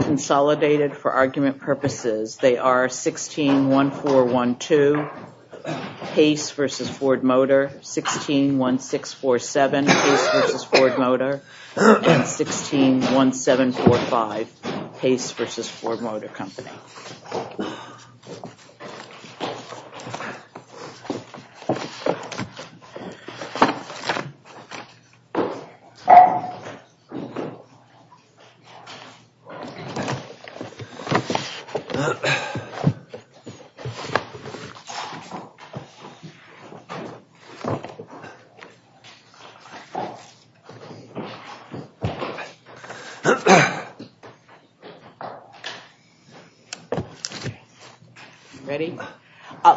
consolidated for argument purposes. They are 161412 Pace v. Ford Motor, 161647 Pace v. Ford Motor, and 161745 Pace v. Ford Motor Company.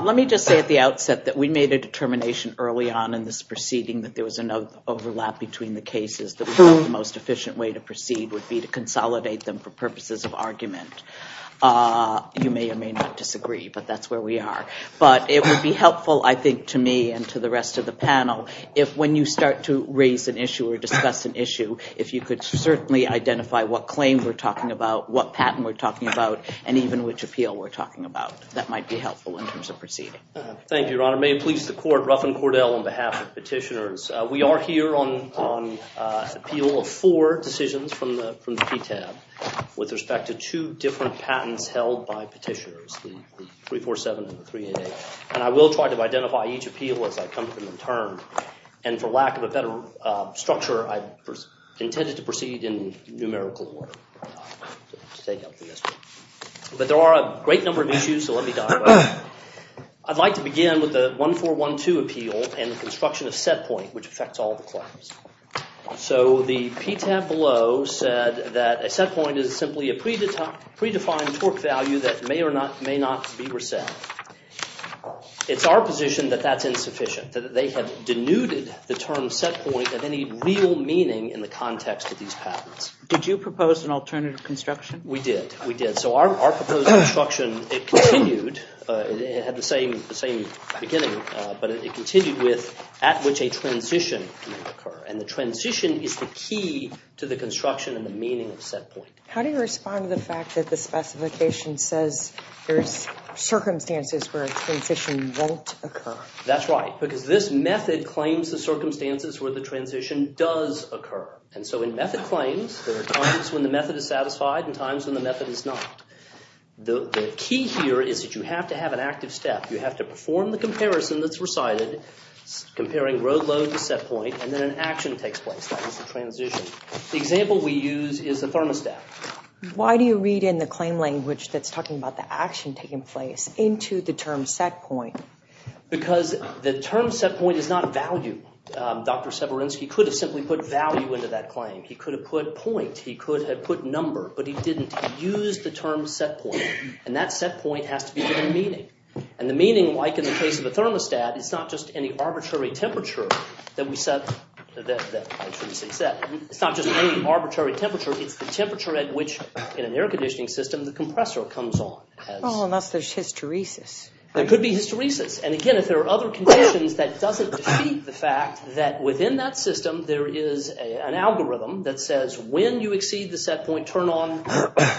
Let me just say at the outset that we made a determination early on in this proceeding that there was an overlap between the cases. The most efficient way to proceed would be to consolidate them for purposes of argument. You may or may not disagree, but that's where we are. But it would be helpful, I think, to me and to the rest of the panel, if when you start to raise an issue or discuss an issue, if you could certainly identify what claim we're talking about, what patent we're talking about, and even which appeal we're talking about. That might be helpful in terms of proceeding. Thank you, Your Honor. May it please the court, Ruffin Cordell on behalf of petitioners. We are here on appeal of four decisions from the PTAB with respect to two different patents held by petitioners, the 347 and the 388. And I will try to identify each appeal as I come to them in turn. And for lack of a better structure, I intended to proceed in numerical order. But there are a great number of issues, so let me dive in. I'd like to begin with the 1412 appeal and the construction of set point, which affects all the claims. So the PTAB below said that a set point is simply a predefined torque value that may or not may not be reset. It's our position that that's insufficient, that they have denuded the term set point of any real meaning in the context of these patents. Did you propose an alternative construction? We did, we did. So our proposed construction, it continued, it had the same beginning, but it continued with at which a transition can occur. And the transition is the key to the construction and the meaning of set point. How do you respond to the fact that the specification says there's circumstances where a transition won't occur? That's right, because this method claims the circumstances where the transition does occur. And so in method claims, there are times when the method is satisfied and times when the method is not. The key here is that you have to have an active step. You have to perform the comparison that's recited, comparing road load to set point, and then an action takes place. That is the transition. The example we use is the thermostat. Why do you read in the claim language that's talking about the action taking place into the term set point? Because the term set point is not a value. Dr. Severinsky could have simply put value into that claim. He could have put point, he could have put number, but he didn't. He used the term set point, and that set point has to be given a meaning. And the meaning, like in the case of a thermostat, it's not just any arbitrary temperature that we set. It's not just any arbitrary temperature, it's the temperature at which, in an air conditioning system, the compressor comes on. Unless there's hysteresis. There could be hysteresis, and again, if there are other conditions that doesn't defeat the fact that within that time frame, they turn on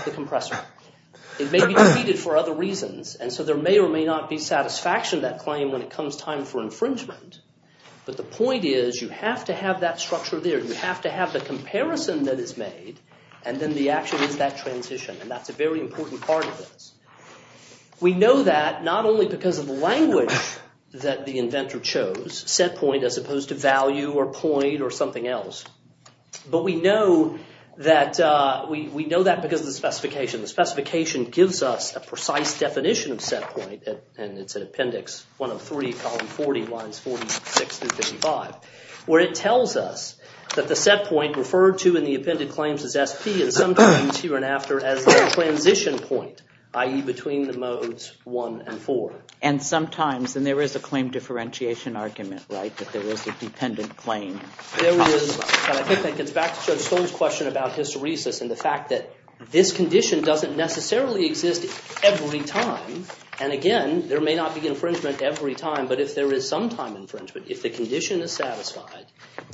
the compressor. It may be defeated for other reasons, and so there may or may not be satisfaction that claim when it comes time for infringement, but the point is you have to have that structure there. You have to have the comparison that is made, and then the action is that transition, and that's a very important part of this. We know that not only because of the language that the inventor chose, set point as opposed to value or point or something else, but we know that because of the specification. The specification gives us a precise definition of set point, and it's an appendix 103, column 40, lines 46-55, where it tells us that the set point referred to in the appended claims as SP and sometimes here and after as the transition point, i.e. between the modes 1 and 4. And sometimes, and there is a claim differentiation argument, right? That there is a dependent claim. There is, but I think that gets back to Judge Stone's question about hysteresis and the fact that this condition doesn't necessarily exist every time, and again, there may not be infringement every time, but if there is some time infringement, if the condition is satisfied,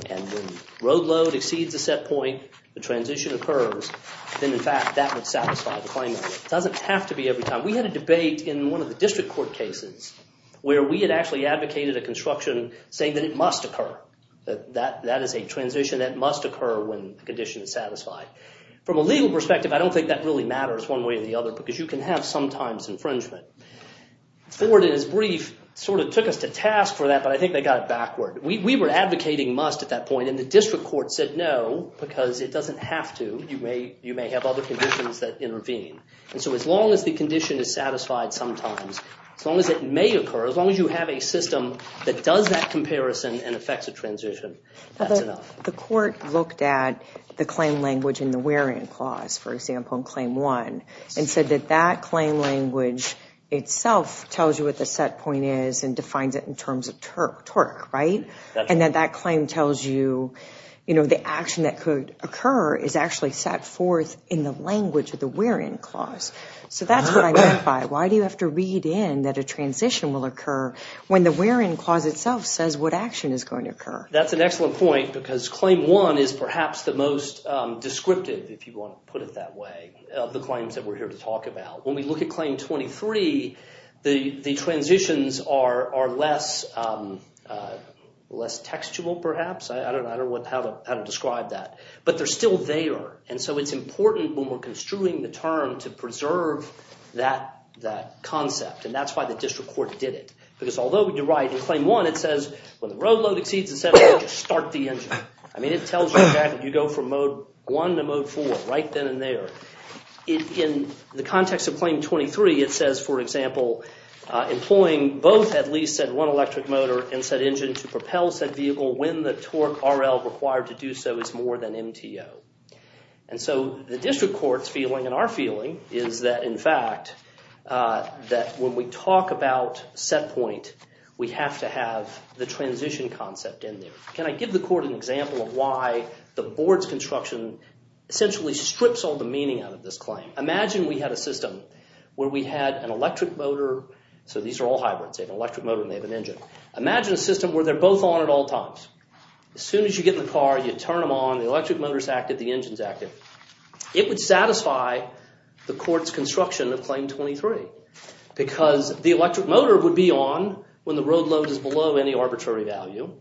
and when road load exceeds the set point, the transition occurs, then in fact that would satisfy the claimant. It doesn't have to be every time. We had a debate in one of the district court cases where we had actually advocated a construction saying that it must occur, that that is a transition that must occur when the condition is satisfied. From a legal perspective, I don't think that really matters one way or the other because you can have sometimes infringement. Ford, in his brief, sort of took us to task for that, but I think they got it backward. We were advocating must at that point, and the district court said no because it doesn't have to. You may have other conditions that intervene, and so as long as the may occur, as long as you have a system that does that comparison and affects a transition, that's enough. The court looked at the claim language in the wear-in clause, for example, in claim one, and said that that claim language itself tells you what the set point is and defines it in terms of torque, right? And then that claim tells you, you know, the action that could occur is actually set forth in the language of the wear-in clause. So that's what I mean by why do you have to read in that a transition will occur when the wear-in clause itself says what action is going to occur? That's an excellent point because claim one is perhaps the most descriptive, if you want to put it that way, of the claims that we're here to talk about. When we look at claim 23, the transitions are less textual, perhaps. I don't know how to describe that, but they're still there, and so it's important when we're strewing the term to preserve that concept, and that's why the district court did it. Because although you're right, in claim one it says when the road load exceeds a set engine, start the engine. I mean, it tells you that you go from mode one to mode four right then and there. In the context of claim 23, it says, for example, employing both at least said one electric motor and said engine to propel said vehicle when the torque RL required to do so is more than MTO. And so the district court's feeling and our feeling is that, in fact, that when we talk about set point, we have to have the transition concept in there. Can I give the court an example of why the board's construction essentially strips all the meaning out of this claim? Imagine we had a system where we had an electric motor, so these are all hybrids, they have an electric motor and they have an engine. Imagine a system where they're both on at all times. As soon as you get in the car, you turn them on, the electric motor's active, the engine's active. It would satisfy the court's construction of claim 23 because the electric motor would be on when the road load is below any arbitrary value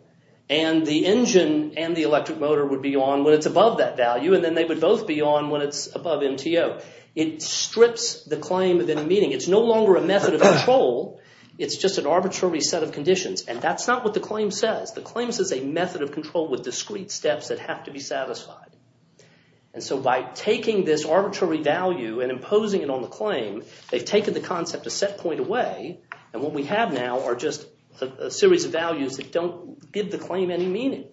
and the engine and the electric motor would be on when it's above that value and then they would both be on when it's above MTO. It strips the claim of any meaning. It's no longer a method of control, it's just an arbitrary set of conditions and that's not what the claim says. The claim says a method of control with discreet steps that have to be satisfied and so by taking this arbitrary value and imposing it on the claim, they've taken the concept a set point away and what we have now are just a series of values that don't give the claim any meaning.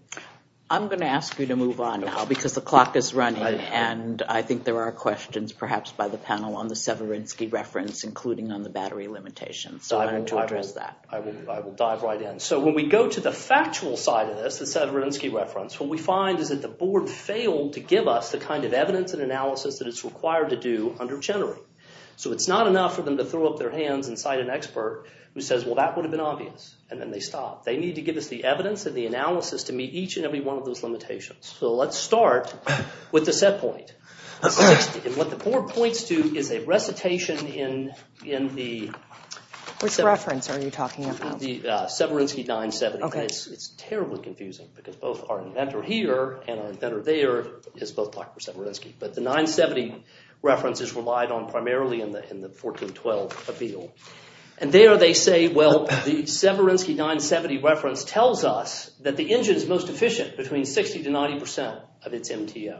I'm going to ask you to move on now because the clock is running and I think there are questions perhaps by the panel on the Severinsky reference including on the battery limitations, so I'm going to address that. I will dive right in. So when we go to the factual side of this, the Severinsky reference, what we find is that the board failed to give us the kind of evidence and analysis that it's required to do under Chenery. So it's not enough for them to throw up their hands and cite an expert who says well that would have been obvious and then they stop. They need to give us the evidence and the analysis to meet each and every one of those limitations. So let's start with the set point. What the board points to is a recitation in the... Which reference are you talking about? The Severinsky 970. It's terribly confusing because both our inventor here and our inventor there is both Dr. Severinsky. But the 970 reference is relied on primarily in the 1412 appeal. And there they say well the Severinsky 970 reference tells us that the engine is most efficient between 60 to 90 percent of its MTO.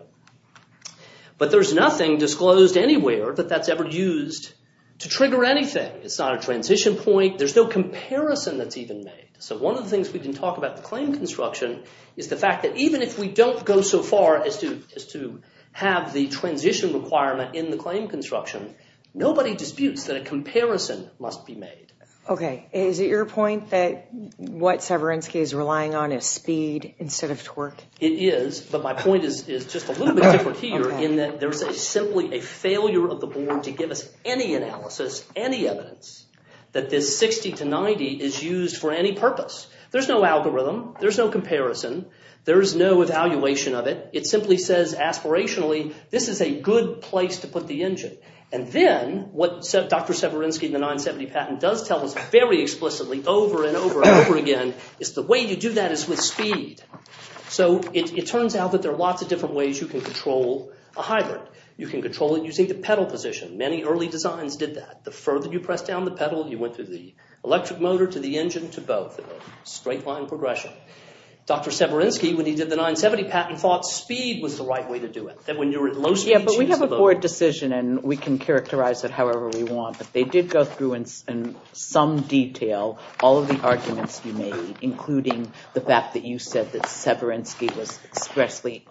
But there's nothing disclosed anywhere that that's ever used to trigger anything. It's not a transition point. There's no comparison that's even made. So one of the things we can talk about the claim construction is the fact that even if we don't go so far as to have the transition requirement in the claim construction, nobody disputes that a comparison must be made. Okay, is it your point that what Severinsky is relying on is speed instead of torque? It is, but my point is just a little bit different here in that there's simply a failure of the board to give us any analysis, any evidence that this 60 to 90 is used for any purpose. There's no algorithm. There's no comparison. There's no evaluation of it. It simply says aspirationally this is a good place to put the engine. And then what Dr. Severinsky in the 970 patent does tell us very explicitly over and over and over again is the way you do that is with speed. So it turns out that there are lots of different ways you can control a hybrid. You can control it using the pedal position. Many early designs did that. The further you press down the pedal, you went through the electric motor to the engine to both. Straight line progression. Dr. Severinsky, when he did the 970 patent, thought speed was the right way to do it. But we have a board decision and we can characterize it however we want, but they did go through in some detail all of the arguments you made, including the fact that you said that Severinsky was expressly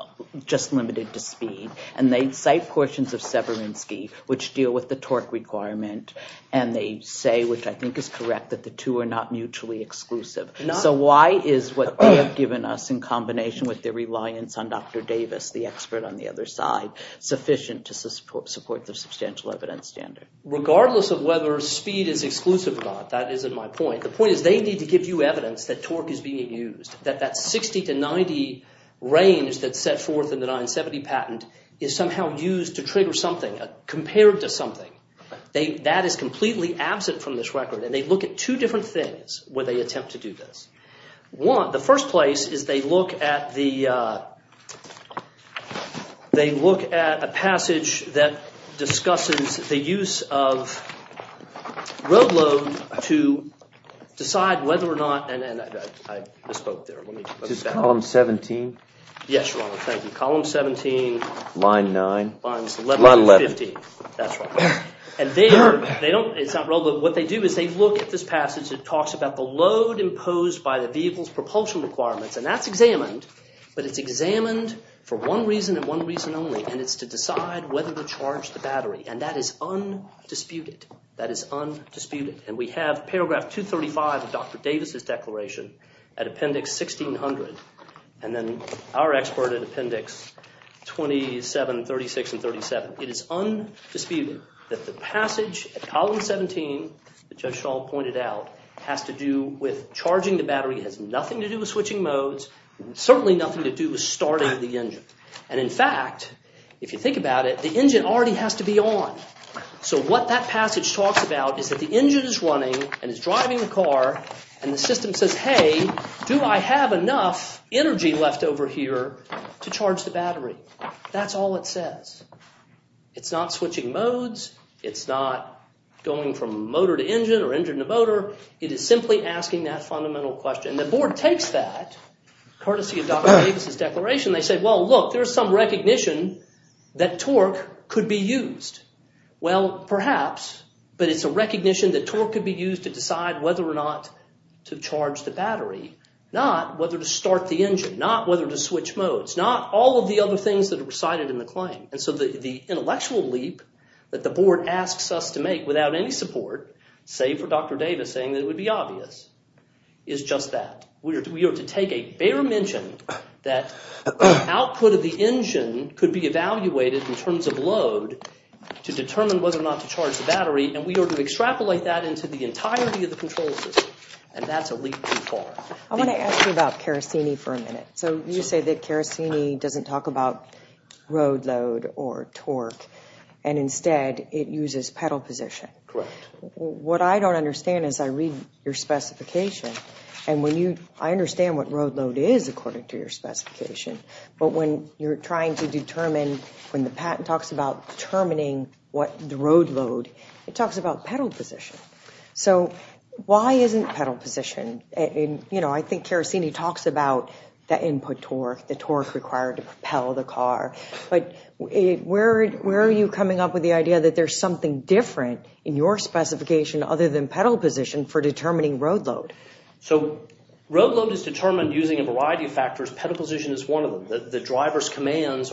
just limited to speed. And they cite portions of Severinsky which deal with the torque requirement. And they say, which I think is correct, that the two are not mutually exclusive. So why is what they have given us in combination with their reliance on Dr. Davis, the expert on the other side, sufficient to support the substantial evidence standard? Regardless of whether speed is exclusive or not, that isn't my point. The point is they need to give you evidence that torque is being used. That that 60 to 90 range that's set forth in the 970 patent is somehow used to trigger something, compared to something. That is completely absent from this record. And they look at two different things where they attempt to do this. One, the first place is they look at the they look at a passage that discusses the use of road load to decide whether or not, and I misspoke there. Is this column 17? Yes, your honor. Thank you. Column 17, line 9, line 11, that's right. And they are, they don't, it's not relevant. What they do is they look at this passage that talks about the load imposed by the vehicle's propulsion requirements. And that's examined, but it's examined for one reason and one reason only, and it's to decide whether to charge the battery. And that is undisputed. That is declaration at Appendix 1600, and then our expert at Appendix 27, 36, and 37. It is undisputed that the passage at column 17, that Judge Shaw pointed out, has to do with charging the battery, has nothing to do with switching modes, certainly nothing to do with starting the engine. And in fact, if you think about it, the engine already has to be on. So what that passage talks about is that the engine is running, and it's driving the car, and the system says, hey, do I have enough energy left over here to charge the battery? That's all it says. It's not switching modes, it's not going from motor to engine, or engine to motor, it is simply asking that fundamental question. The board takes that, courtesy of Dr. Davis's declaration, they say, well look, there's some recognition that torque could be used. Well, perhaps, but it's a recognition that torque could be used to decide whether or not to charge the battery, not whether to start the engine, not whether to switch modes, not all of the other things that are recited in the claim. And so the intellectual leap that the board asks us to make, without any support, save for Dr. Davis saying that it would be obvious, is just that. We are to take a bare mention that output of the engine could be evaluated in terms of load to determine whether or not to charge the battery, and we are to extrapolate that into the entirety of the control system, and that's a leap too far. I want to ask you about Karasini for a minute. So you say that Karasini doesn't talk about road load or torque, and instead it uses pedal position. Correct. What I don't understand is, I read your specification, and when you, I understand what road load is according to your specification, but when you're trying to determine, when the patent talks about determining what the road load, it talks about pedal position. So why isn't pedal position, and you know, I think Karasini talks about the input torque, the torque required to propel the car, but where are you coming up with the idea that there's something different in your specification other than pedal position for determining road load? So road load is determined using a variety of factors. Pedal force commands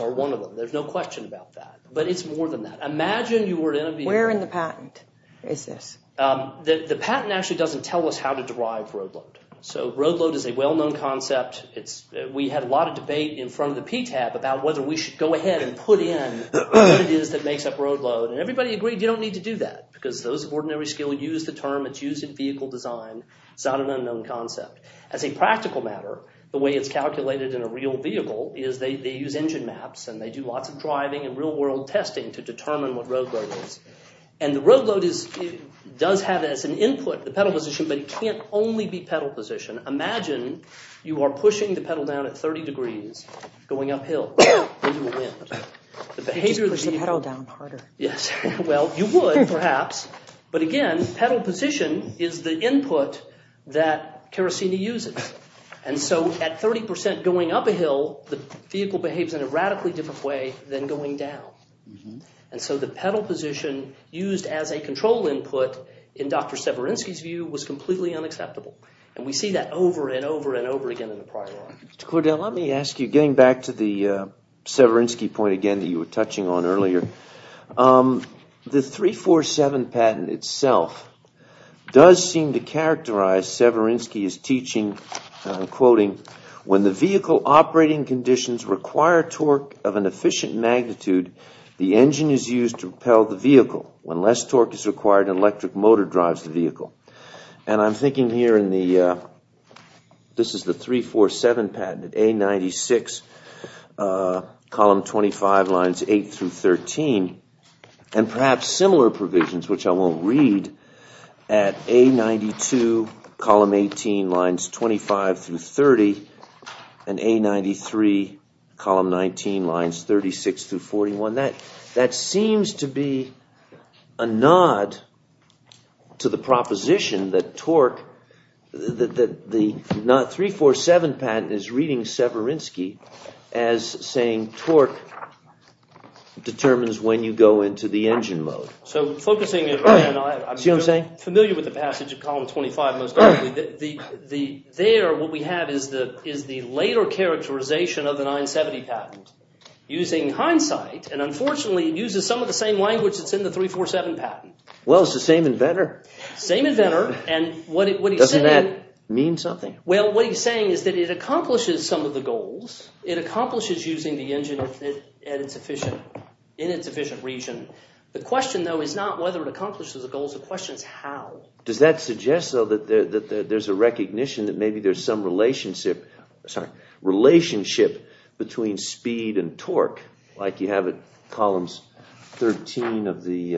are one of them. There's no question about that, but it's more than that. Imagine you were to interview... Where in the patent is this? The patent actually doesn't tell us how to derive road load. So road load is a well-known concept. We had a lot of debate in front of the PTAB about whether we should go ahead and put in what it is that makes up road load, and everybody agreed you don't need to do that, because those of ordinary skill use the term, it's used in vehicle design, it's not an unknown concept. As a practical matter, the way it's calculated in a real vehicle is they use engine maps, and they do lots of driving and real-world testing to determine what road load is, and the road load does have as an input the pedal position, but it can't only be pedal position. Imagine you are pushing the pedal down at 30 degrees going uphill. Well, you would perhaps, but again, pedal position is the input that the vehicle behaves in a radically different way than going down, and so the pedal position used as a control input, in Dr. Severinsky's view, was completely unacceptable, and we see that over and over and over again in the prior article. Mr. Cordell, let me ask you, getting back to the Severinsky point again that you were touching on earlier, the 347 patent itself does seem to characterize what Severinsky is teaching, and I'm quoting, when the vehicle operating conditions require torque of an efficient magnitude, the engine is used to propel the vehicle. When less torque is required, an electric motor drives the vehicle. And I'm thinking here in the, this is the 347 patent, A-96, column 25, lines 8-13, and perhaps similar provisions, which I won't read, at A-92, column 18, lines 25-30, and A-93, column 19, lines 36-41, that seems to be a nod to the proposition that torque, that the 347 patent is reading Severinsky as saying torque determines when you go into the engine mode. So, focusing, and I'm familiar with the passage of column 25, most likely, there, what we have is the later characterization of the 970 patent, using hindsight, and unfortunately, it uses some of the same language that's in the 347 patent. Well, it's the same inventor. Same inventor, and what he's saying... Doesn't that mean something? It accomplishes using the engine in its efficient region. The question, though, is not whether it accomplishes the goals, the question is how. Does that suggest, though, that there's a recognition that maybe there's some relationship, sorry, relationship between speed and torque, like you have at columns 13 of the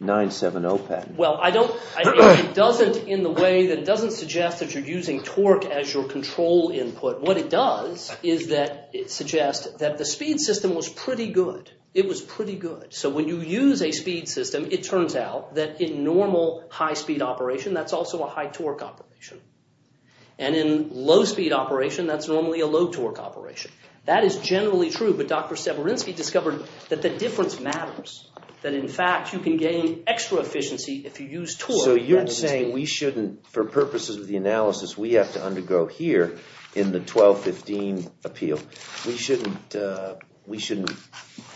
970 patent? Well, I don't, it doesn't in the way that it doesn't suggest that you're using torque as your control input. What it does is that it suggests that the speed system was pretty good. It was pretty good. So, when you use a speed system, it turns out that in normal high-speed operation, that's also a high-torque operation. And in low-speed operation, that's normally a low-torque operation. That is generally true, but Dr. Severinsky discovered that the difference matters. That, in fact, you can gain extra efficiency if you use torque. So, you're saying we shouldn't, for purposes of the analysis we have to undergo here in the 1215 appeal, we shouldn't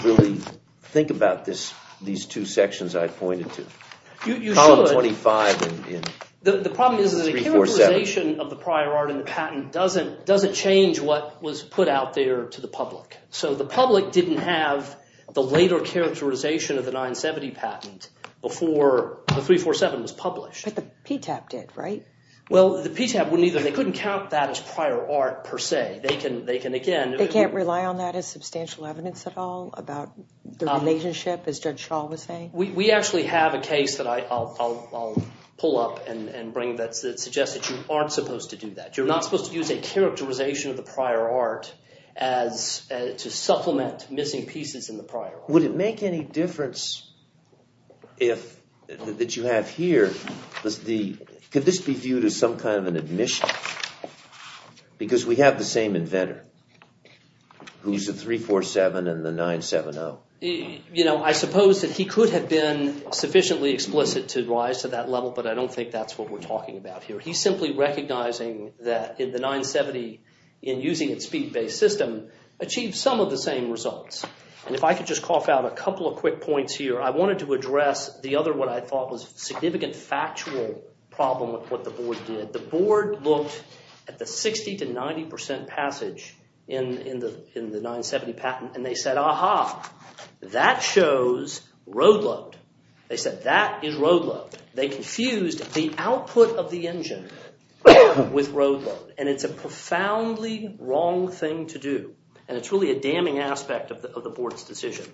really think about these two sections I pointed to. Column 25 in 347. The problem is that a characterization of the prior art in the patent doesn't change what was put out there to the public. So, the public didn't have the later characterization of the 970 patent before the 347 was published. But the PTAP did, right? Well, the PTAP wouldn't either. They couldn't count that as prior art per se. They can, again... They can't rely on that as substantial evidence at all about the relationship, as Judge Schall was saying? We actually have a case that I'll pull up and bring that suggests that you aren't supposed to do that. You're not supposed to use a characterization of the prior art to supplement missing pieces in the prior art. Would it make any difference if, that you have here, could this be viewed as some kind of an admission? Because we have the same inventor who's the 347 and the 970. You know, I suppose that he could have been sufficiently explicit to rise to that level, but I don't think that's what we're talking about here. He's simply recognizing that in the 970, in using its speed-based system, achieved some of the same results. And if I could just cough out a couple of quick points here. I wanted to address the other, what I thought was a significant factual problem with what the board did. The board looked at the 60 to 90% passage in the 970 patent, and they said, That shows road load. They said that is road load. They confused the output of the engine with road load, and it's a profoundly wrong thing to do. And it's really a damning aspect of the board's decision.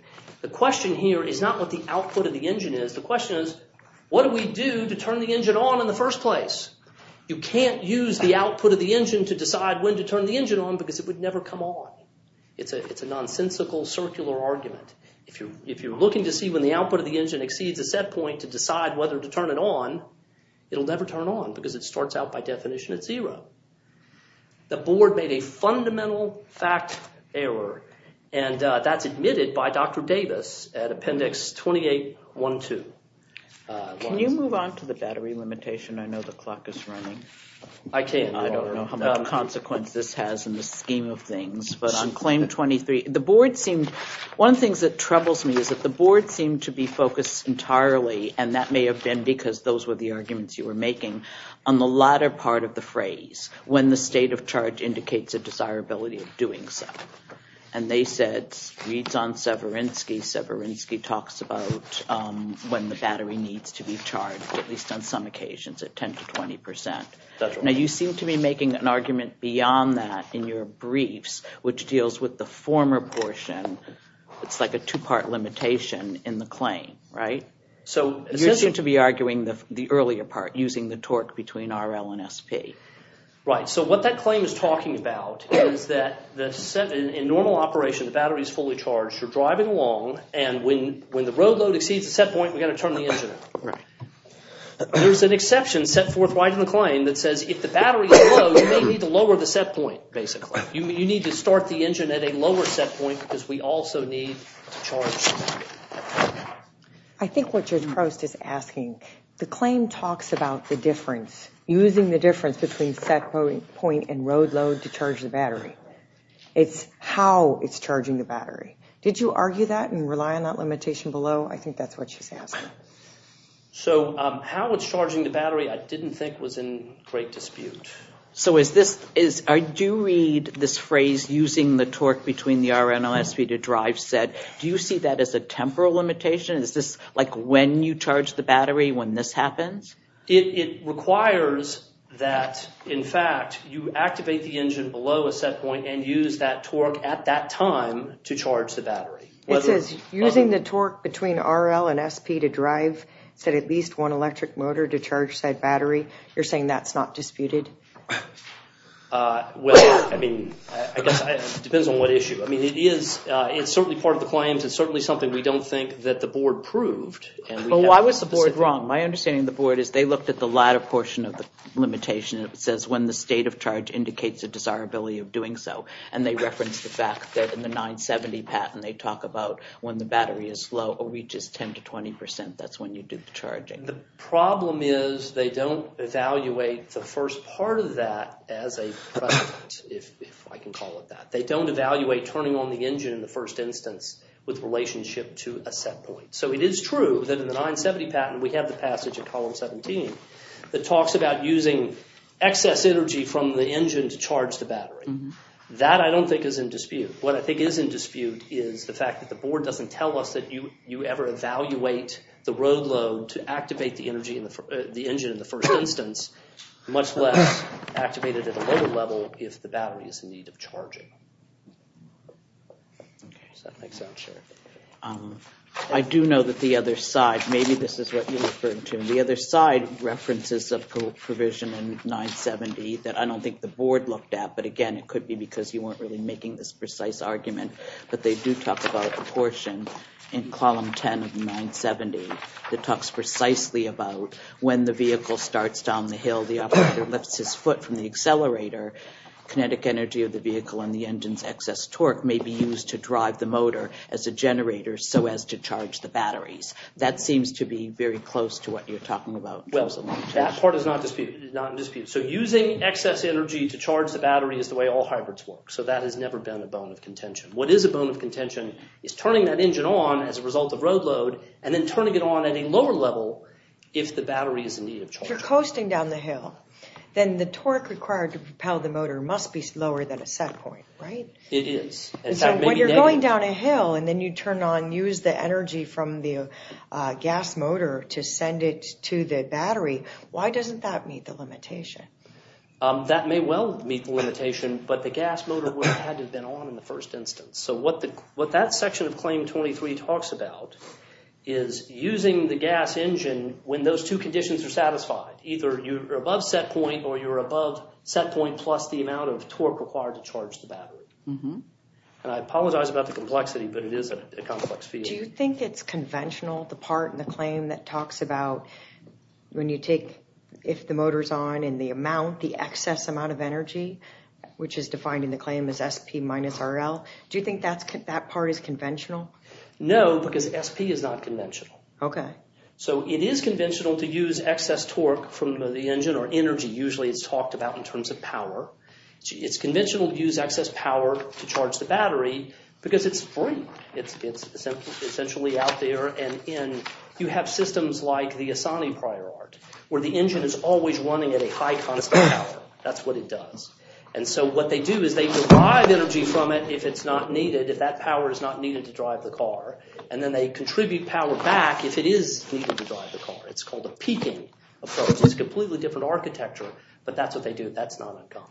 The question here is not what the output of the engine is. The question is, what do we do to turn the engine on in the first place? You can't use the output of the engine to decide when to turn the engine on because it would never come on. It's a nonsensical circular argument. If you're looking to see when the output of the engine exceeds a set point to decide whether to turn it on, it'll never turn on because it starts out by definition at zero. The board made a fundamental fact error, and that's admitted by Dr. Davis at Appendix 28.1.2. Can you move on to the battery limitation? I know the clock is running. I can't. I don't know how much consequence this has in the scheme of things, but on claim 23, the board seemed one of the things that troubles me is that the board seemed to be focused entirely, and that may have been because those were the arguments you were making on the latter part of the phrase, when the state of charge indicates a desirability of doing so. And they said, reads on Severinsky, Severinsky talks about when the battery needs to be charged, at least on some occasions, at 10 to 20 percent. Now, you seem to be making an argument beyond that in your briefs, which deals with the former portion. It's like a two part limitation in the claim, right? So you seem to be arguing the earlier part, using the torque between RL and SP. Right. So what that claim is talking about is that in normal operation, the battery is fully charged. You're driving along, and when the road load exceeds the set point, we've got to turn the engine off. Right. There's an exception set forthright in the claim that says if the battery is low, you may need to lower the set point, basically. You need to start the engine at a lower set point, because we also need to charge the battery. I think what Judge Prost is asking, the claim talks about the difference, using the difference between set point and road load to charge the battery. It's how it's charging the battery. Did you argue that and rely on that limitation below? I think that's what she's asking. So how it's charging the battery, I didn't think was in great dispute. So is this, I do read this phrase, using the torque between the RL and SP to drive set. Do you see that as a temporal limitation? Is this like when you charge the battery, when this happens? It requires that, in fact, you activate the engine below a set point and use that torque at that time to charge the battery. It says using the torque between RL and SP to drive set at least one electric motor to charge said battery. You're saying that's not disputed? Well, I mean, I guess it depends on what issue. I mean, it is, it's certainly part of the claims. It's certainly something we don't think that the board proved. Well, why was the board wrong? My understanding of the board is they looked at the latter portion of the limitation. It says when the state of charge indicates a desirability of doing so. And they referenced the fact that in the 970 patent, they talk about when the battery is low or reaches 10 to 20 percent, that's when you do the charging. The problem is they don't evaluate the first part of that as a precedent, if I can call it that. They don't evaluate turning on the engine in the first instance with relationship to a set point. So it is true that in the 970 patent, we have the passage of column 17 that talks about using excess energy from the engine to charge the battery. That I don't think is in dispute. What I think is in dispute is the fact that the board doesn't tell us that you ever evaluate the road load to activate the engine in the first instance, much less activate it at a lower level if the battery is in need of charging. I do know that the other side, maybe this is what you're referring to. The other side references a provision in 970 that I don't think the board looked at. But again, it could be because you weren't really making this precise argument. But they do talk about the portion in column 10 of the 970 that talks precisely about when the vehicle starts down the hill, the operator lifts his foot from the accelerator, kinetic energy of the vehicle and the engine's excess torque may be used to drive the motor as a generator so as to charge the batteries. That seems to be very close to what you're talking about. Well, that part is not in dispute. So using excess energy to charge the battery is the way all hybrids work. So that has never been a bone of contention. What is a bone of contention is turning that engine on as a result of road load and then turning it on at a lower level if the battery is in need of charging. If you're coasting down the hill, then the torque required to propel the motor must be lower than a set point, right? It is. So when you're going down a hill and then you turn on, use the energy from the gas motor to send it to the battery, why doesn't that meet the limitation? That may well meet the limitation, but the gas motor would have had to have been on in the first instance. So what that section of Claim 23 talks about is using the gas engine when those two conditions are satisfied. Either you're above set point or you're above set point plus the amount of torque required to charge the battery. And I apologize about the complexity, but it is a complex field. Do you think it's conventional, the part in the claim that talks about when you take if the motor's on and the amount, the excess amount of energy, which is defined in the claim as SP minus RL? Do you think that part is conventional? No, because SP is not conventional. Okay. So it is conventional to use excess torque from the engine or energy, usually it's talked about in terms of power. It's conventional to use excess power to charge the battery because it's free. It's essentially out there. And you have systems like the Asani prior art where the engine is always running at a high constant power. That's what it does. And so what they do is they derive energy from it if it's not needed, if that power is not needed to drive the car, and then they contribute power back if it is needed to drive the car. It's called a peaking approach. It's a completely different architecture, but that's what they do. That's not uncommon.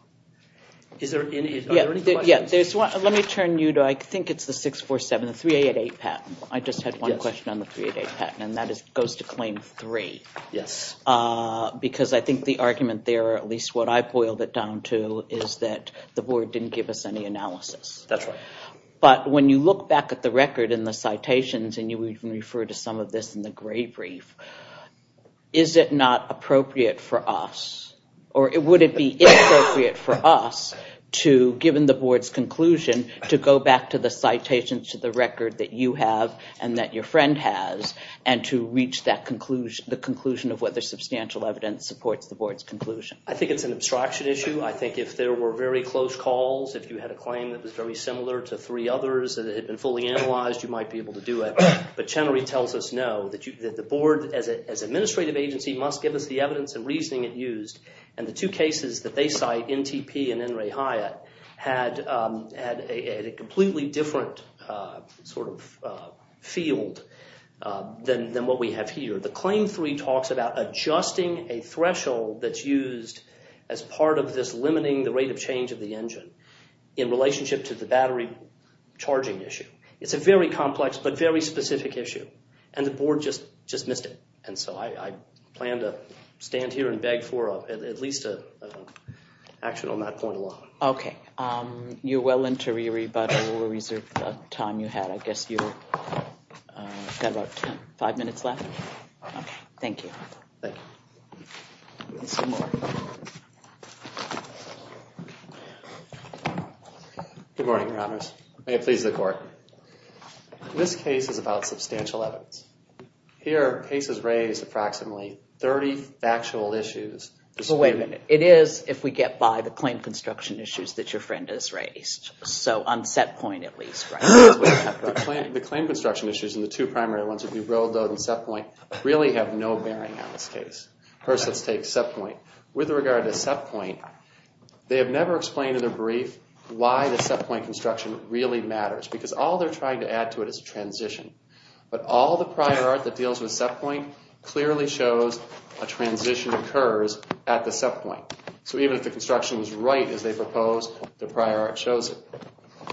Are there any questions? Yeah. Let me turn you to, I think it's the 647, the 388 patent. I just had one question on the 388 patent, and that goes to Claim 3. Yes. Because I think the argument there, at least what I've boiled it down to, is that the board didn't give us any analysis. That's right. But when you look back at the record and the citations, and you even refer to some of this in the gray brief, is it not appropriate for us, or would it be inappropriate for us to, given the board's conclusion, to go back to the citations to the record that you have and that your friend has and to reach the conclusion of whether substantial evidence supports the board's conclusion? I think it's an abstraction issue. I think if there were very close calls, if you had a claim that was very similar to three others that had been fully analyzed, you might be able to do it. But Chenery tells us no, that the board, as an administrative agency, must give us the evidence and reasoning it used. And the two cases that they cite, NTP and N. Ray Hyatt, had a completely different sort of field than what we have here. The Claim 3 talks about adjusting a threshold that's used as part of this limiting the rate of change of the engine in relationship to the battery charging issue. It's a very complex but very specific issue, and the board just missed it. And so I plan to stand here and beg for at least an action on that point alone. OK. You're well into re-rebuttal. We'll reserve the time you had. I guess you've got about five minutes left. OK. Thank you. Thank you. Good morning, Your Honors. May it please the court. This case is about substantial evidence. Here, the case has raised approximately 30 factual issues. Wait a minute. It is, if we get by, the claim construction issues that your friend has raised. So on set point, at least, right? The claim construction issues and the two primary ones, if you roll those in set point, really have no bearing on this case. First, let's take set point. With regard to set point, they have never explained in their brief why the set point construction really matters. Because all they're trying to add to it is a transition. But all the prior art that deals with set point clearly shows a transition occurs at the set point. So even if the construction was right as they proposed, the prior art shows it.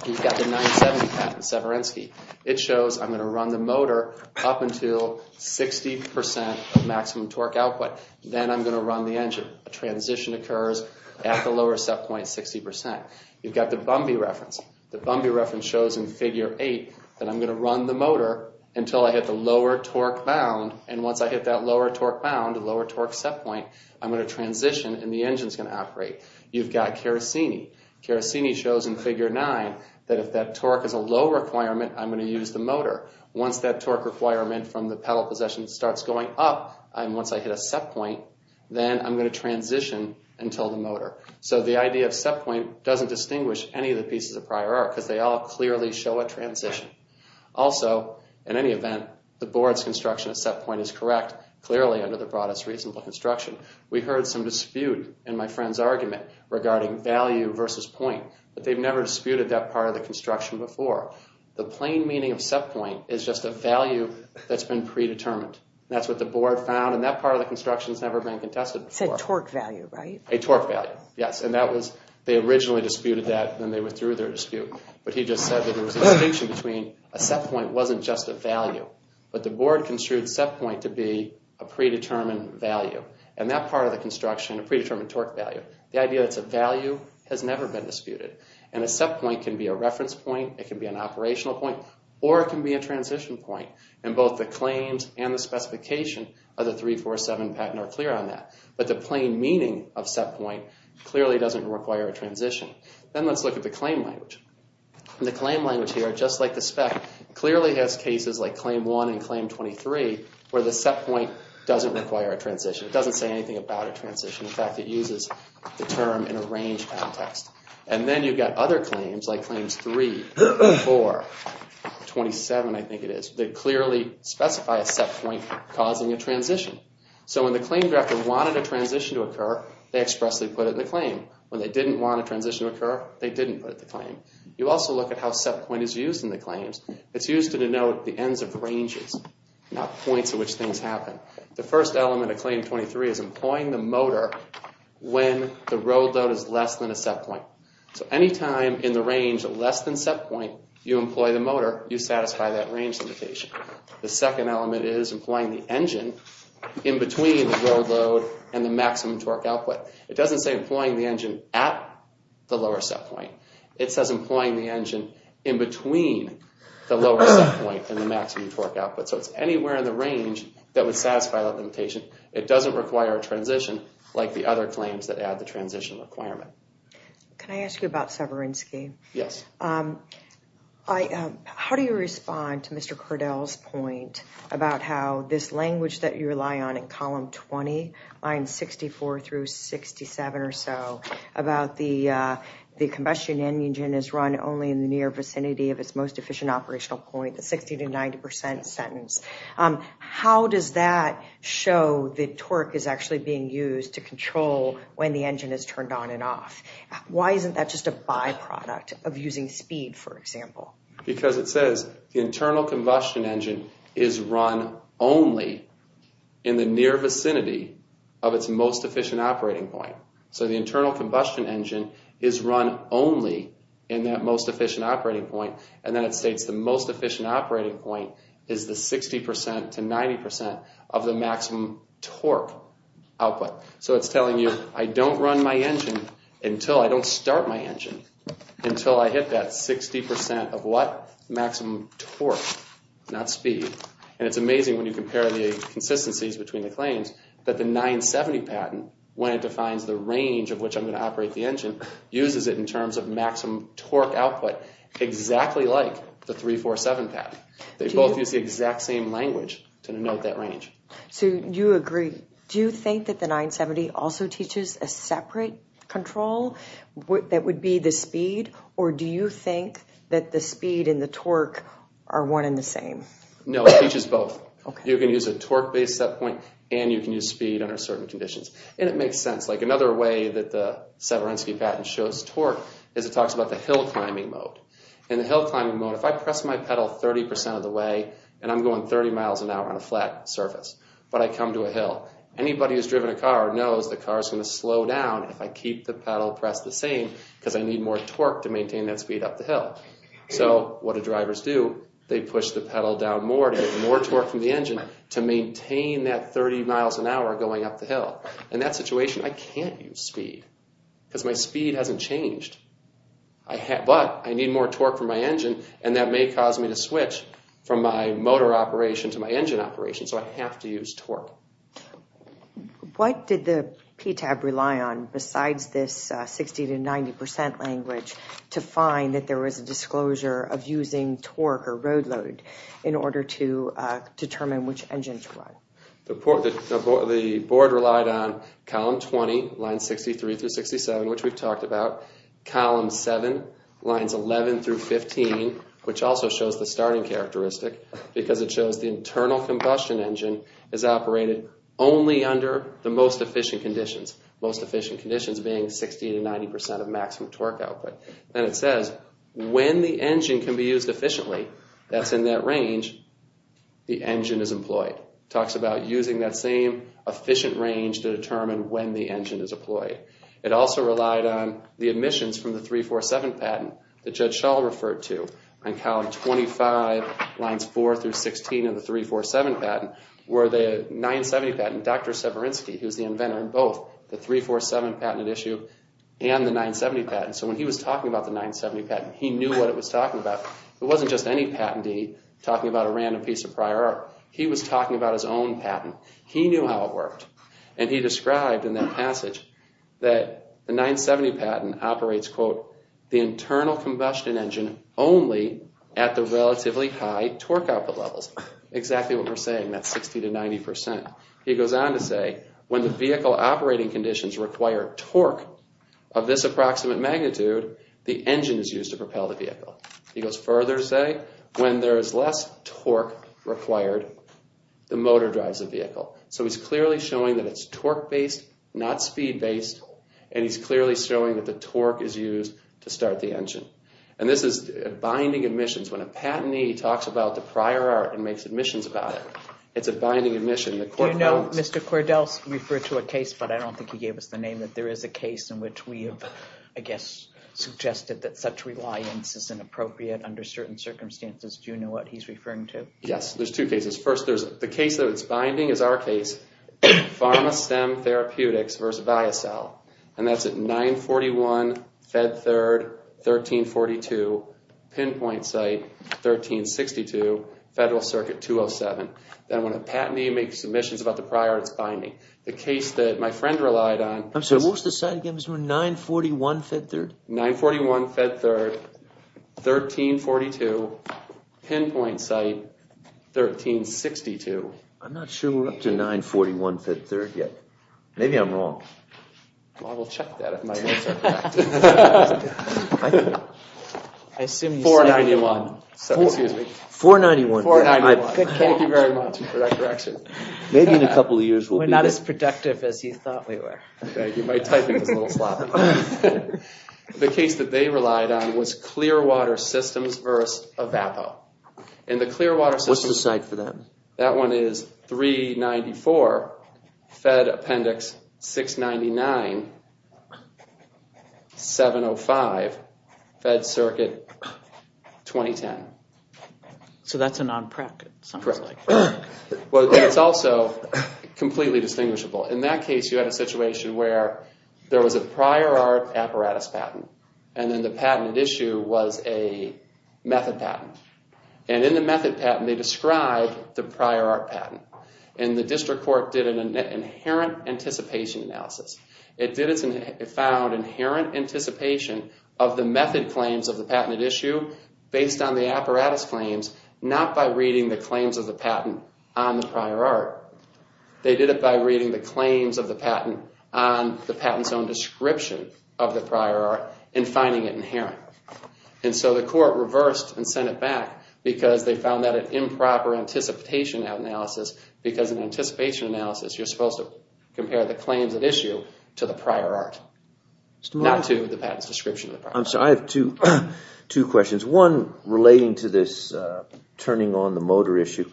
You've got the 970 patent, Severinsky. It shows I'm going to run the motor up until 60% of maximum torque output. Then I'm going to run the engine. A transition occurs at the lower set point, 60%. You've got the Bumby reference. The Bumby reference shows in figure 8 that I'm going to run the motor until I hit the lower torque bound. And once I hit that lower torque bound, the lower torque set point, I'm going to transition and the engine's going to operate. You've got Carasini. Carasini shows in figure 9 that if that torque is a low requirement, I'm going to use the motor. Once that torque requirement from the pedal position starts going up, and once I hit a set point, then I'm going to transition until the motor. So the idea of set point doesn't distinguish any of the pieces of prior art because they all clearly show a transition. Also, in any event, the board's construction at set point is correct, clearly under the broadest reasonable construction. We heard some dispute in my friend's argument regarding value versus point. But they've never disputed that part of the construction before. The plain meaning of set point is just a value that's been predetermined. That's what the board found, and that part of the construction has never been contested before. A torque value, right? A torque value, yes. They originally disputed that, and then they withdrew their dispute. But he just said that there was a distinction between a set point wasn't just a value, but the board construed set point to be a predetermined value. And that part of the construction, a predetermined torque value, the idea that it's a value has never been disputed. And a set point can be a reference point, it can be an operational point, or it can be a transition point. And both the claims and the specification of the 347 patent are clear on that. But the plain meaning of set point clearly doesn't require a transition. Then let's look at the claim language. The claim language here, just like the spec, clearly has cases like Claim 1 and Claim 23 where the set point doesn't require a transition. It doesn't say anything about a transition. In fact, it uses the term in a range context. And then you've got other claims, like Claims 3, 4, 27, I think it is, that clearly specify a set point causing a transition. So when the claim director wanted a transition to occur, they expressly put it in the claim. When they didn't want a transition to occur, they didn't put it in the claim. You also look at how set point is used in the claims. It's used to denote the ends of ranges, not points at which things happen. The first element of Claim 23 is employing the motor when the road load is less than a set point. So any time in the range less than set point, you employ the motor, you satisfy that range limitation. The second element is employing the engine in between the road load and the maximum torque output. It doesn't say employing the engine at the lower set point. It says employing the engine in between the lower set point and the maximum torque output. So it's anywhere in the range that would satisfy that limitation. It doesn't require a transition like the other claims that add the transition requirement. Can I ask you about Severinsky? Yes. How do you respond to Mr. Cordell's point about how this language that you rely on in column 20, lines 64 through 67 or so, about the combustion engine is run only in the near vicinity of its most efficient operational point, the 60 to 90 percent sentence. How does that show the torque is actually being used to control when the engine is turned on and off? Why isn't that just a byproduct of using speed, for example? Because it says the internal combustion engine is run only in the near vicinity of its most efficient operating point. So the internal combustion engine is run only in that most efficient operating point. And then it states the most efficient operating point is the 60 percent to 90 percent of the maximum torque output. So it's telling you I don't run my engine until I don't start my engine until I hit that 60 percent of what maximum torque, not speed. And it's amazing when you compare the consistencies between the claims that the 970 patent, when it defines the range of which I'm going to operate the engine, uses it in terms of maximum torque output, exactly like the 347 patent. They both use the exact same language to denote that range. So you agree. Do you think that the 970 also teaches a separate control that would be the speed, or do you think that the speed and the torque are one and the same? No, it teaches both. You can use a torque-based set point and you can use speed under certain conditions. And it makes sense. Like another way that the Severinsky patent shows torque is it talks about the hill climbing mode. In the hill climbing mode, if I press my pedal 30 percent of the way and I'm going 30 miles an hour on a flat surface, but I come to a hill, anybody who's driven a car knows the car's going to slow down if I keep the pedal pressed the same because I need more torque to maintain that speed up the hill. So what do drivers do? They push the pedal down more to get more torque from the engine to maintain that 30 miles an hour going up the hill. In that situation, I can't use speed because my speed hasn't changed. But I need more torque from my engine, and that may cause me to switch from my motor operation to my engine operation. So I have to use torque. What did the PTAB rely on besides this 60 to 90 percent language to find that there was a disclosure of using torque or road load in order to determine which engine to run? The board relied on column 20, lines 63 through 67, which we've talked about. Column 7, lines 11 through 15, which also shows the starting characteristic because it shows the internal combustion engine is operated only under the most efficient conditions, most efficient conditions being 60 to 90 percent of maximum torque output. Then it says when the engine can be used efficiently, that's in that range, the engine is employed. It talks about using that same efficient range to determine when the engine is employed. It also relied on the admissions from the 347 patent that Judge Schall referred to on column 25, lines 4 through 16 of the 347 patent where the 970 patent, Dr. Severinsky, who's the inventor of both the 347 patent at issue and the 970 patent. So when he was talking about the 970 patent, he knew what it was talking about. It wasn't just any patentee talking about a random piece of prior art. He was talking about his own patent. He knew how it worked and he described in that passage that the 970 patent operates, quote, the internal combustion engine only at the relatively high torque output levels. Exactly what we're saying, that 60 to 90 percent. He goes on to say when the vehicle operating conditions require torque of this approximate magnitude, He goes further to say when there is less torque required, the motor drives the vehicle. So he's clearly showing that it's torque-based, not speed-based, and he's clearly showing that the torque is used to start the engine. And this is binding admissions. When a patentee talks about the prior art and makes admissions about it, it's a binding admission. Do you know, Mr. Cordell referred to a case, but I don't think he gave us the name, that there is a case in which we have, I guess, suggested that such reliance is inappropriate under certain circumstances. Do you know what he's referring to? Yes, there's two cases. First, there's the case that it's binding is our case, Pharma-Stem Therapeutics versus Viacel. And that's at 941 Fed Third, 1342 Pinpoint Site, 1362 Federal Circuit 207. Then when a patentee makes submissions about the prior art, it's binding. The case that my friend relied on is 941 Fed Third, 1342 Pinpoint Site, 1362. I'm not sure we're up to 941 Fed Third yet. Maybe I'm wrong. I will check that if my notes are correct. 491. 491. Thank you very much for that correction. We're not as productive as you thought we were. My typing is a little sloppy. The case that they relied on was Clearwater Systems versus Avapo. What's the site for that? That one is 394 Fed Appendix 699, 705 Fed Circuit 2010. So that's a non-PREC, it sounds like. It's also completely distinguishable. In that case, you had a situation where there was a prior art apparatus patent and then the patented issue was a method patent. And in the method patent, they described the prior art patent. And the district court did an inherent anticipation analysis. It found inherent anticipation of the method claims of the patented issue based on the apparatus claims, not by reading the claims of the patent on the prior art. They did it by reading the claims of the patent on the patent's own description of the prior art and finding it inherent. And so the court reversed and sent it back because they found that an improper anticipation analysis because in anticipation analysis, you're supposed to compare the claims at issue to the prior art, not to the patent's description of the prior art. I'm sorry, I have two questions. One relating to this turning on the motor issue.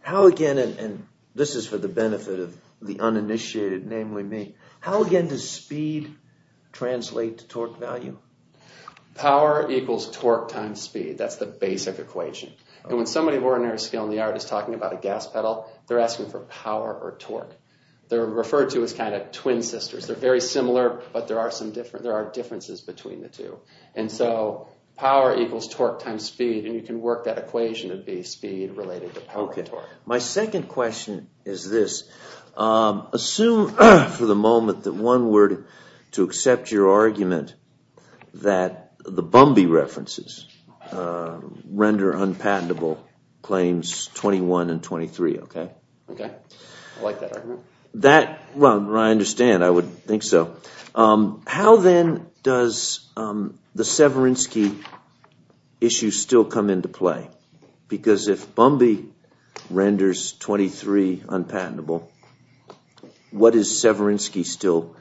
How again, and this is for the benefit of the uninitiated, namely me, how again does speed translate to torque value? Power equals torque times speed. That's the basic equation. And when somebody of ordinary skill in the art is talking about a gas pedal, they're asking for power or torque. They're referred to as kind of twin sisters. They're very similar, but there are differences between the two. And so power equals torque times speed, and you can work that equation to be speed related to power and torque. My second question is this. Assume for the moment that one were to accept your argument that the Bumby references render unpatentable claims 21 and 23, okay? Okay, I like that argument. Well, I understand. I would think so. How then does the Severinsky issue still come into play? Because if Bumby renders 23 unpatentable, what is Severinsky still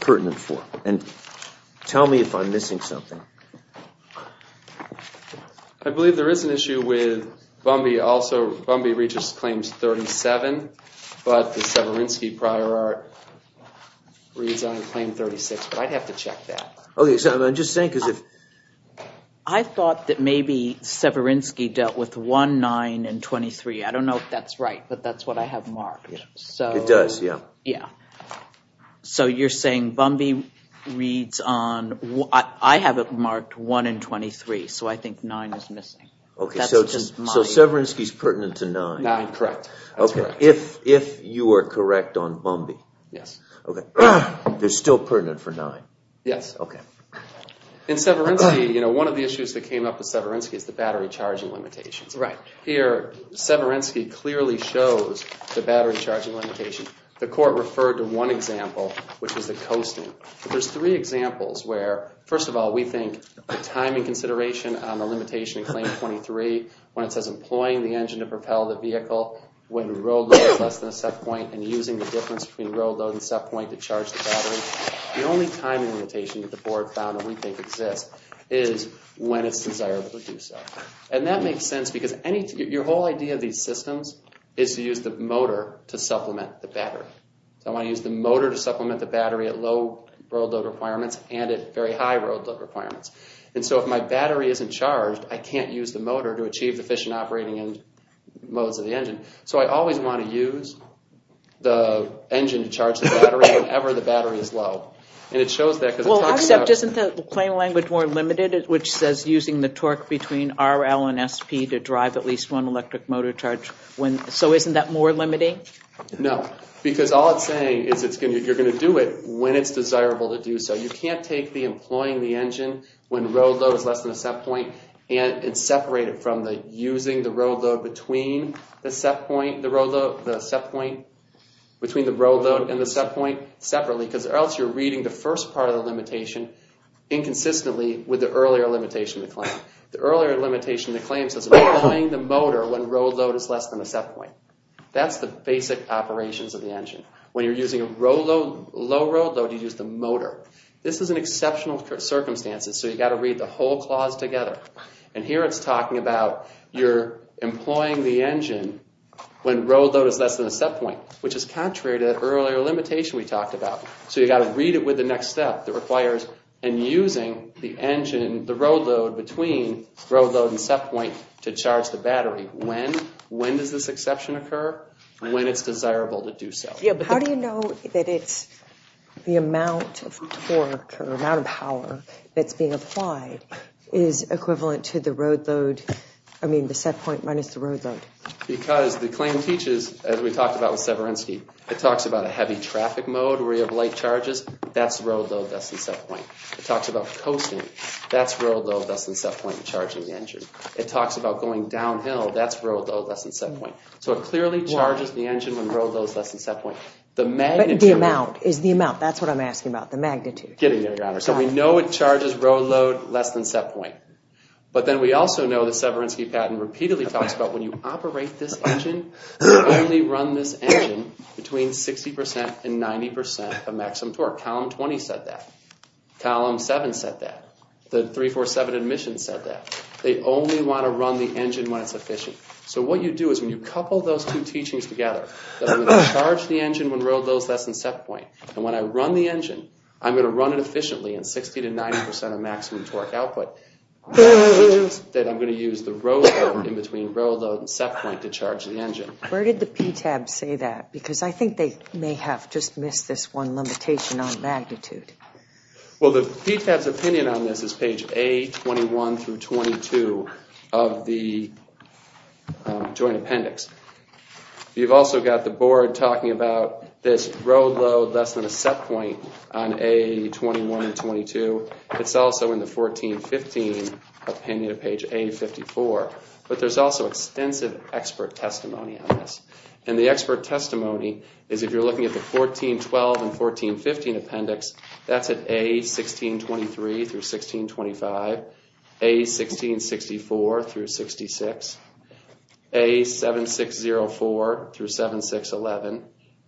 pertinent for? And tell me if I'm missing something. I believe there is an issue with Bumby also. Bumby reaches claims 37, but the Severinsky prior art reads on claim 36, but I'd have to check that. Okay, so I'm just saying because if— I thought that maybe Severinsky dealt with 1, 9, and 23. I don't know if that's right, but that's what I have marked. It does, yeah. Yeah. So you're saying Bumby reads on—I have it marked 1 and 23, so I think 9 is missing. Okay, so Severinsky is pertinent to 9. 9, correct. Okay, if you are correct on Bumby. Yes. Okay, they're still pertinent for 9. Yes. Okay. In Severinsky, one of the issues that came up with Severinsky is the battery charging limitations. Right. Here, Severinsky clearly shows the battery charging limitation. The court referred to one example, which was the coasting. There's three examples where, first of all, we think the timing consideration on the limitation in Claim 23 when it says employing the engine to propel the vehicle when road load is less than a set point and using the difference between road load and set point to charge the battery. The only timing limitation that the board found that we think exists is when it's desirable to do so. And that makes sense because your whole idea of these systems is to use the motor to supplement the battery. I want to use the motor to supplement the battery at low road load requirements and at very high road load requirements. And so if my battery isn't charged, I can't use the motor to achieve the efficient operating modes of the engine. So I always want to use the engine to charge the battery whenever the battery is low. And it shows that because it talks about- Well, except isn't the claim language more limited, which says using the torque between RL and SP to drive at least one electric motor charge? So isn't that more limiting? No, because all it's saying is you're going to do it when it's desirable to do so. You can't take the employing the engine when road load is less than a set point and separate it from using the road load between the set point- between the road load and the set point separately because else you're reading the first part of the limitation inconsistently with the earlier limitation of the claim. The earlier limitation of the claim says employing the motor when road load is less than a set point. That's the basic operations of the engine. When you're using a low road load, you use the motor. This is in exceptional circumstances, so you've got to read the whole clause together. And here it's talking about you're employing the engine when road load is less than a set point, which is contrary to that earlier limitation we talked about. So you've got to read it with the next step that requires and using the engine, the road load between road load and set point to charge the battery. When does this exception occur? When it's desirable to do so. How do you know that it's the amount of torque or amount of power that's being applied is equivalent to the road load- I mean the set point minus the road load? Because the claim teaches, as we talked about with Severinsky, it talks about a heavy traffic mode where you have light charges. That's road load less than set point. It talks about coasting. That's road load less than set point in charging the engine. It talks about going downhill. That's road load less than set point. So it clearly charges the engine when road load is less than set point. The magnitude- But the amount is the amount. That's what I'm asking about, the magnitude. Getting there, Your Honor. So we know it charges road load less than set point. But then we also know the Severinsky patent repeatedly talks about when you operate this engine, only run this engine between 60% and 90% of maximum torque. Column 20 said that. Column 7 said that. The 347 admission said that. They only want to run the engine when it's efficient. So what you do is when you couple those two teachings together, that I'm going to charge the engine when road load is less than set point, and when I run the engine, I'm going to run it efficiently in 60% to 90% of maximum torque output, that I'm going to use the road load in between road load and set point to charge the engine. Where did the PTAB say that? Because I think they may have just missed this one limitation on magnitude. Well, the PTAB's opinion on this is page A21-22 of the joint appendix. You've also got the board talking about this road load less than a set point on A21-22. It's also in the 14-15 opinion of page A54. But there's also extensive expert testimony on this. And the expert testimony is if you're looking at the 14-12 and 14-15 appendix, that's at A1623-1625, A1664-66, A7604-7611,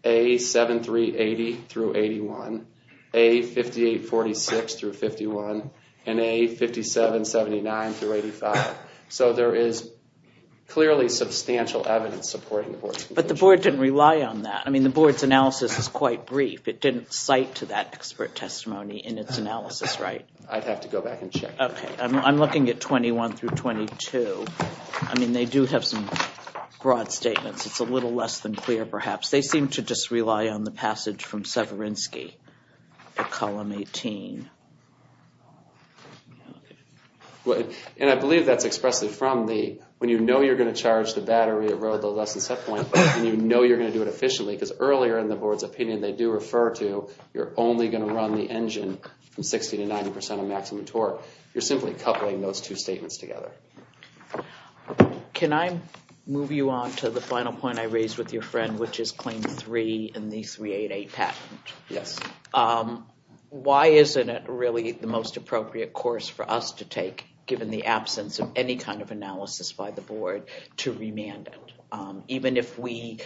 A7380-81, A5846-51, and A5779-85. So there is clearly substantial evidence supporting the board's conclusion. But the board didn't rely on that. I mean, the board's analysis is quite brief. It didn't cite to that expert testimony in its analysis, right? I'd have to go back and check. Okay. I'm looking at 21-22. I mean, they do have some broad statements. It's a little less than clear, perhaps. They seem to just rely on the passage from Severinsky at column 18. And I believe that's expressed from the, when you know you're going to charge the battery at road load less than set point, and you know you're going to do it efficiently, because earlier in the board's opinion they do refer to you're only going to run the engine from 60% to 90% of maximum torque. You're simply coupling those two statements together. Can I move you on to the final point I raised with your friend, which is claim 3 in the 388 patent? Yes. Why isn't it really the most appropriate course for us to take, given the absence of any kind of analysis by the board, to remand it? Even if we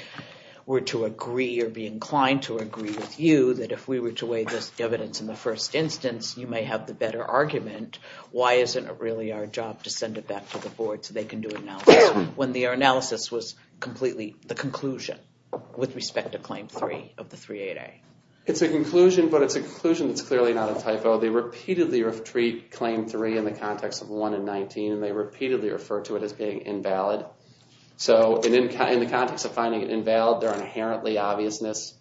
were to agree or be inclined to agree with you, that if we were to weigh this evidence in the first instance, you may have the better argument, why isn't it really our job to send it back to the board so they can do analysis when their analysis was completely the conclusion with respect to claim 3 of the 388? It's a conclusion, but it's a conclusion that's clearly not a typo. They repeatedly treat claim 3 in the context of 1 and 19, and they repeatedly refer to it as being invalid. So in the context of finding it invalid, there are inherently obviousness,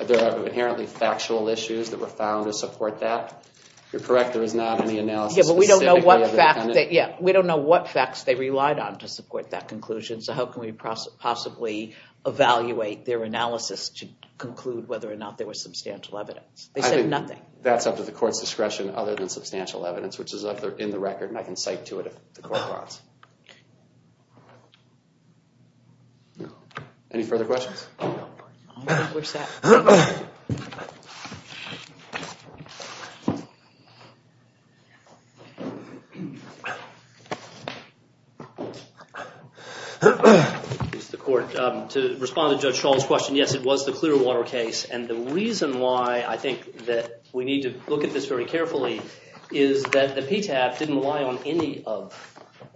there are inherently factual issues that were found to support that. You're correct, there is not any analysis specifically of the defendant. Yeah, but we don't know what facts they relied on to support that conclusion, so how can we possibly evaluate their analysis to conclude whether or not there was substantial evidence? They said nothing. That's up to the court's discretion other than substantial evidence, which is up there in the record, and I can cite to it if the court wants. Any further questions? Where's that? To respond to Judge Schall's question, yes, it was the Clearwater case, and the reason why I think that we need to look at this very carefully is that the PTAB didn't rely on any of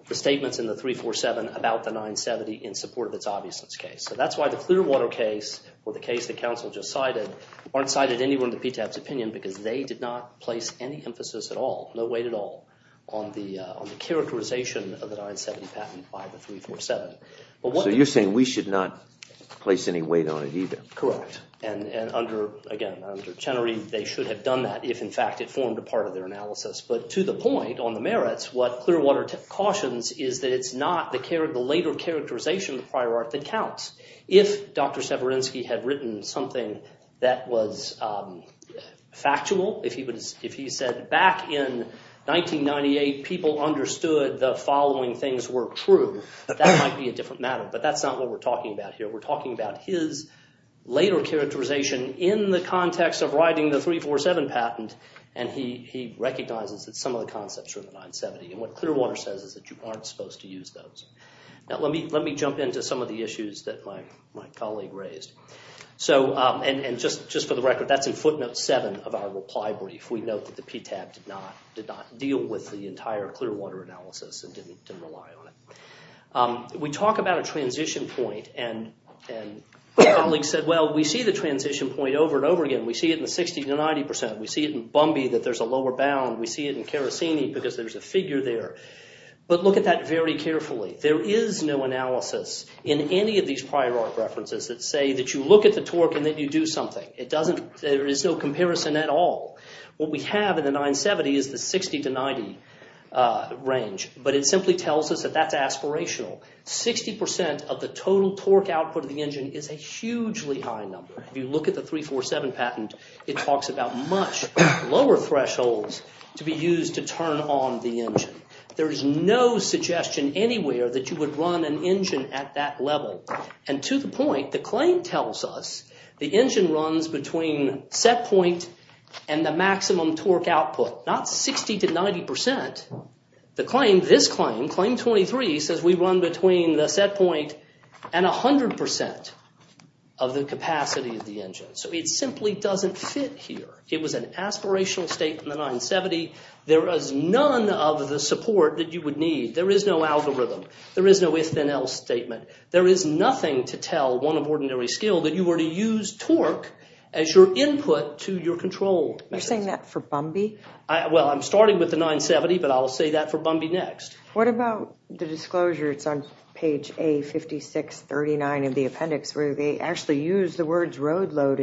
the statements in the 347 about the 970 in support of its obviousness case. So that's why the Clearwater case or the case that counsel just cited aren't cited anywhere in the PTAB's opinion because they did not place any emphasis at all, no weight at all on the characterization of the 970 patent by the 347. So you're saying we should not place any weight on it either? Correct, and again, under Chenery, they should have done that if in fact it formed a part of their analysis. But to the point on the merits, what Clearwater cautions is that it's not the later characterization of the prior art that counts. If Dr. Severinsky had written something that was factual, if he said back in 1998 people understood the following things were true, that might be a different matter, but that's not what we're talking about here. We're talking about his later characterization in the context of writing the 347 patent, and he recognizes that some of the concepts are in the 970, and what Clearwater says is that you aren't supposed to use those. Now let me jump into some of the issues that my colleague raised. And just for the record, that's in footnote 7 of our reply brief. We note that the PTAB did not deal with the entire Clearwater analysis and didn't rely on it. We talk about a transition point, and my colleague said, well, we see the transition point over and over again. We see it in the 60 to 90 percent. We see it in Bumby that there's a lower bound. We see it in Kerasini because there's a figure there. But look at that very carefully. There is no analysis in any of these prior art references that say that you look at the torque and that you do something. There is no comparison at all. What we have in the 970 is the 60 to 90 range, but it simply tells us that that's aspirational. Sixty percent of the total torque output of the engine is a hugely high number. If you look at the 347 patent, it talks about much lower thresholds to be used to turn on the engine. There is no suggestion anywhere that you would run an engine at that level. And to the point, the claim tells us the engine runs between set point and the maximum torque output, not 60 to 90 percent. The claim, this claim, claim 23, says we run between the set point and 100 percent of the capacity of the engine. So it simply doesn't fit here. It was an aspirational statement in the 970. There is none of the support that you would need. There is no algorithm. There is no if-then-else statement. There is nothing to tell one of ordinary skill that you were to use torque as your input to your control. You're saying that for Bumby? Well, I'm starting with the 970, but I'll say that for Bumby next. What about the disclosures on page A5639 of the appendix where they actually use the words road load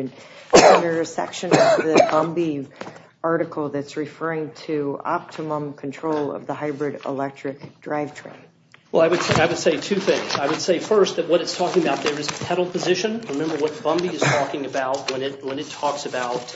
under a section of the Bumby article that's referring to optimum control of the hybrid electric drivetrain? Well, I would say two things. I would say first that what it's talking about there is pedal position. Remember what Bumby is talking about when it talks about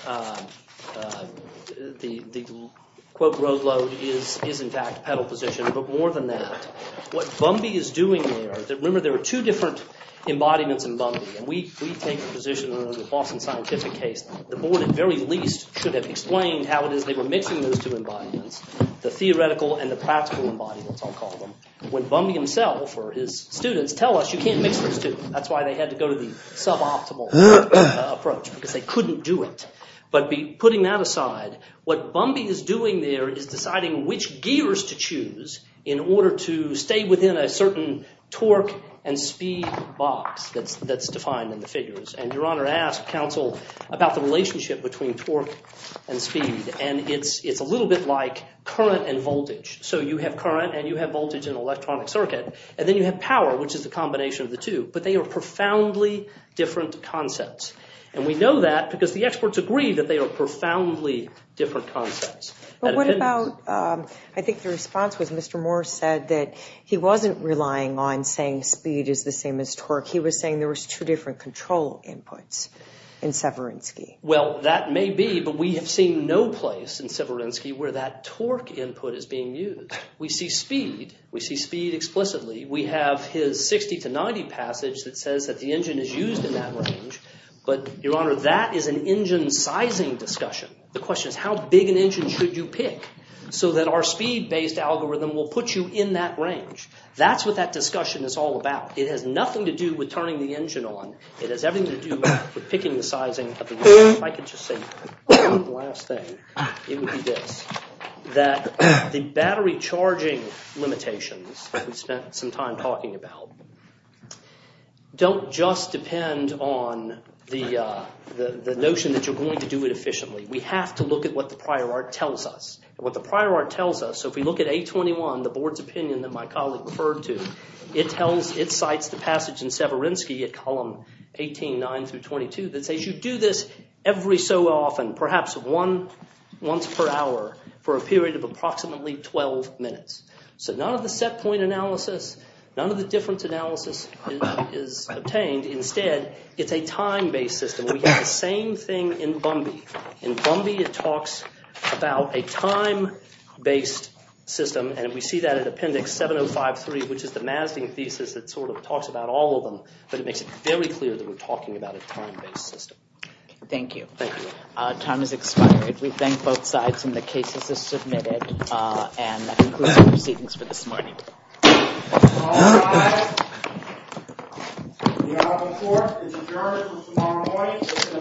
the, quote, road load is in fact pedal position. But more than that, what Bumby is doing there, remember there are two different embodiments in Bumby, and we take the position in the Boston Scientific case, the board at the very least should have explained how it is they were mixing those two embodiments, the theoretical and the practical embodiments, I'll call them, when Bumby himself or his students tell us you can't mix those two. That's why they had to go to the suboptimal approach because they couldn't do it. But putting that aside, what Bumby is doing there is deciding which gears to choose in order to stay within a certain torque and speed box that's defined in the figures. And Your Honor asked counsel about the relationship between torque and speed, and it's a little bit like current and voltage. So you have current and you have voltage in an electronic circuit, and then you have power, which is the combination of the two, but they are profoundly different concepts. And we know that because the experts agree that they are profoundly different concepts. But what about, I think the response was Mr. Moore said that he wasn't relying on saying speed is the same as torque. He was saying there was two different control inputs in Severinsky. Well, that may be, but we have seen no place in Severinsky where that torque input is being used. We see speed. We see speed explicitly. We have his 60 to 90 passage that says that the engine is used in that range, but Your Honor, that is an engine sizing discussion. The question is how big an engine should you pick so that our speed-based algorithm will put you in that range. That's what that discussion is all about. It has nothing to do with turning the engine on. It has everything to do with picking the sizing of the engine. If I could just say one last thing, it would be this, that the battery charging limitations we've spent some time talking about don't just depend on the notion that you're going to do it efficiently. We have to look at what the prior art tells us. What the prior art tells us, so if we look at 821, the board's opinion that my colleague referred to, it cites the passage in Severinsky at column 18.9 through 22 that says you do this every so often, perhaps once per hour for a period of approximately 12 minutes. So none of the set point analysis, none of the difference analysis is obtained. Instead, it's a time-based system. We have the same thing in Bumby. In Bumby, it talks about a time-based system, and we see that in Appendix 7053, which is the Mazding thesis that sort of talks about all of them, but it makes it very clear that we're talking about a time-based system. Thank you. Time has expired. We thank both sides, and the cases are submitted, and that concludes the proceedings for this morning. All rise. We are before the adjournment until tomorrow morning at 10 o'clock a.m.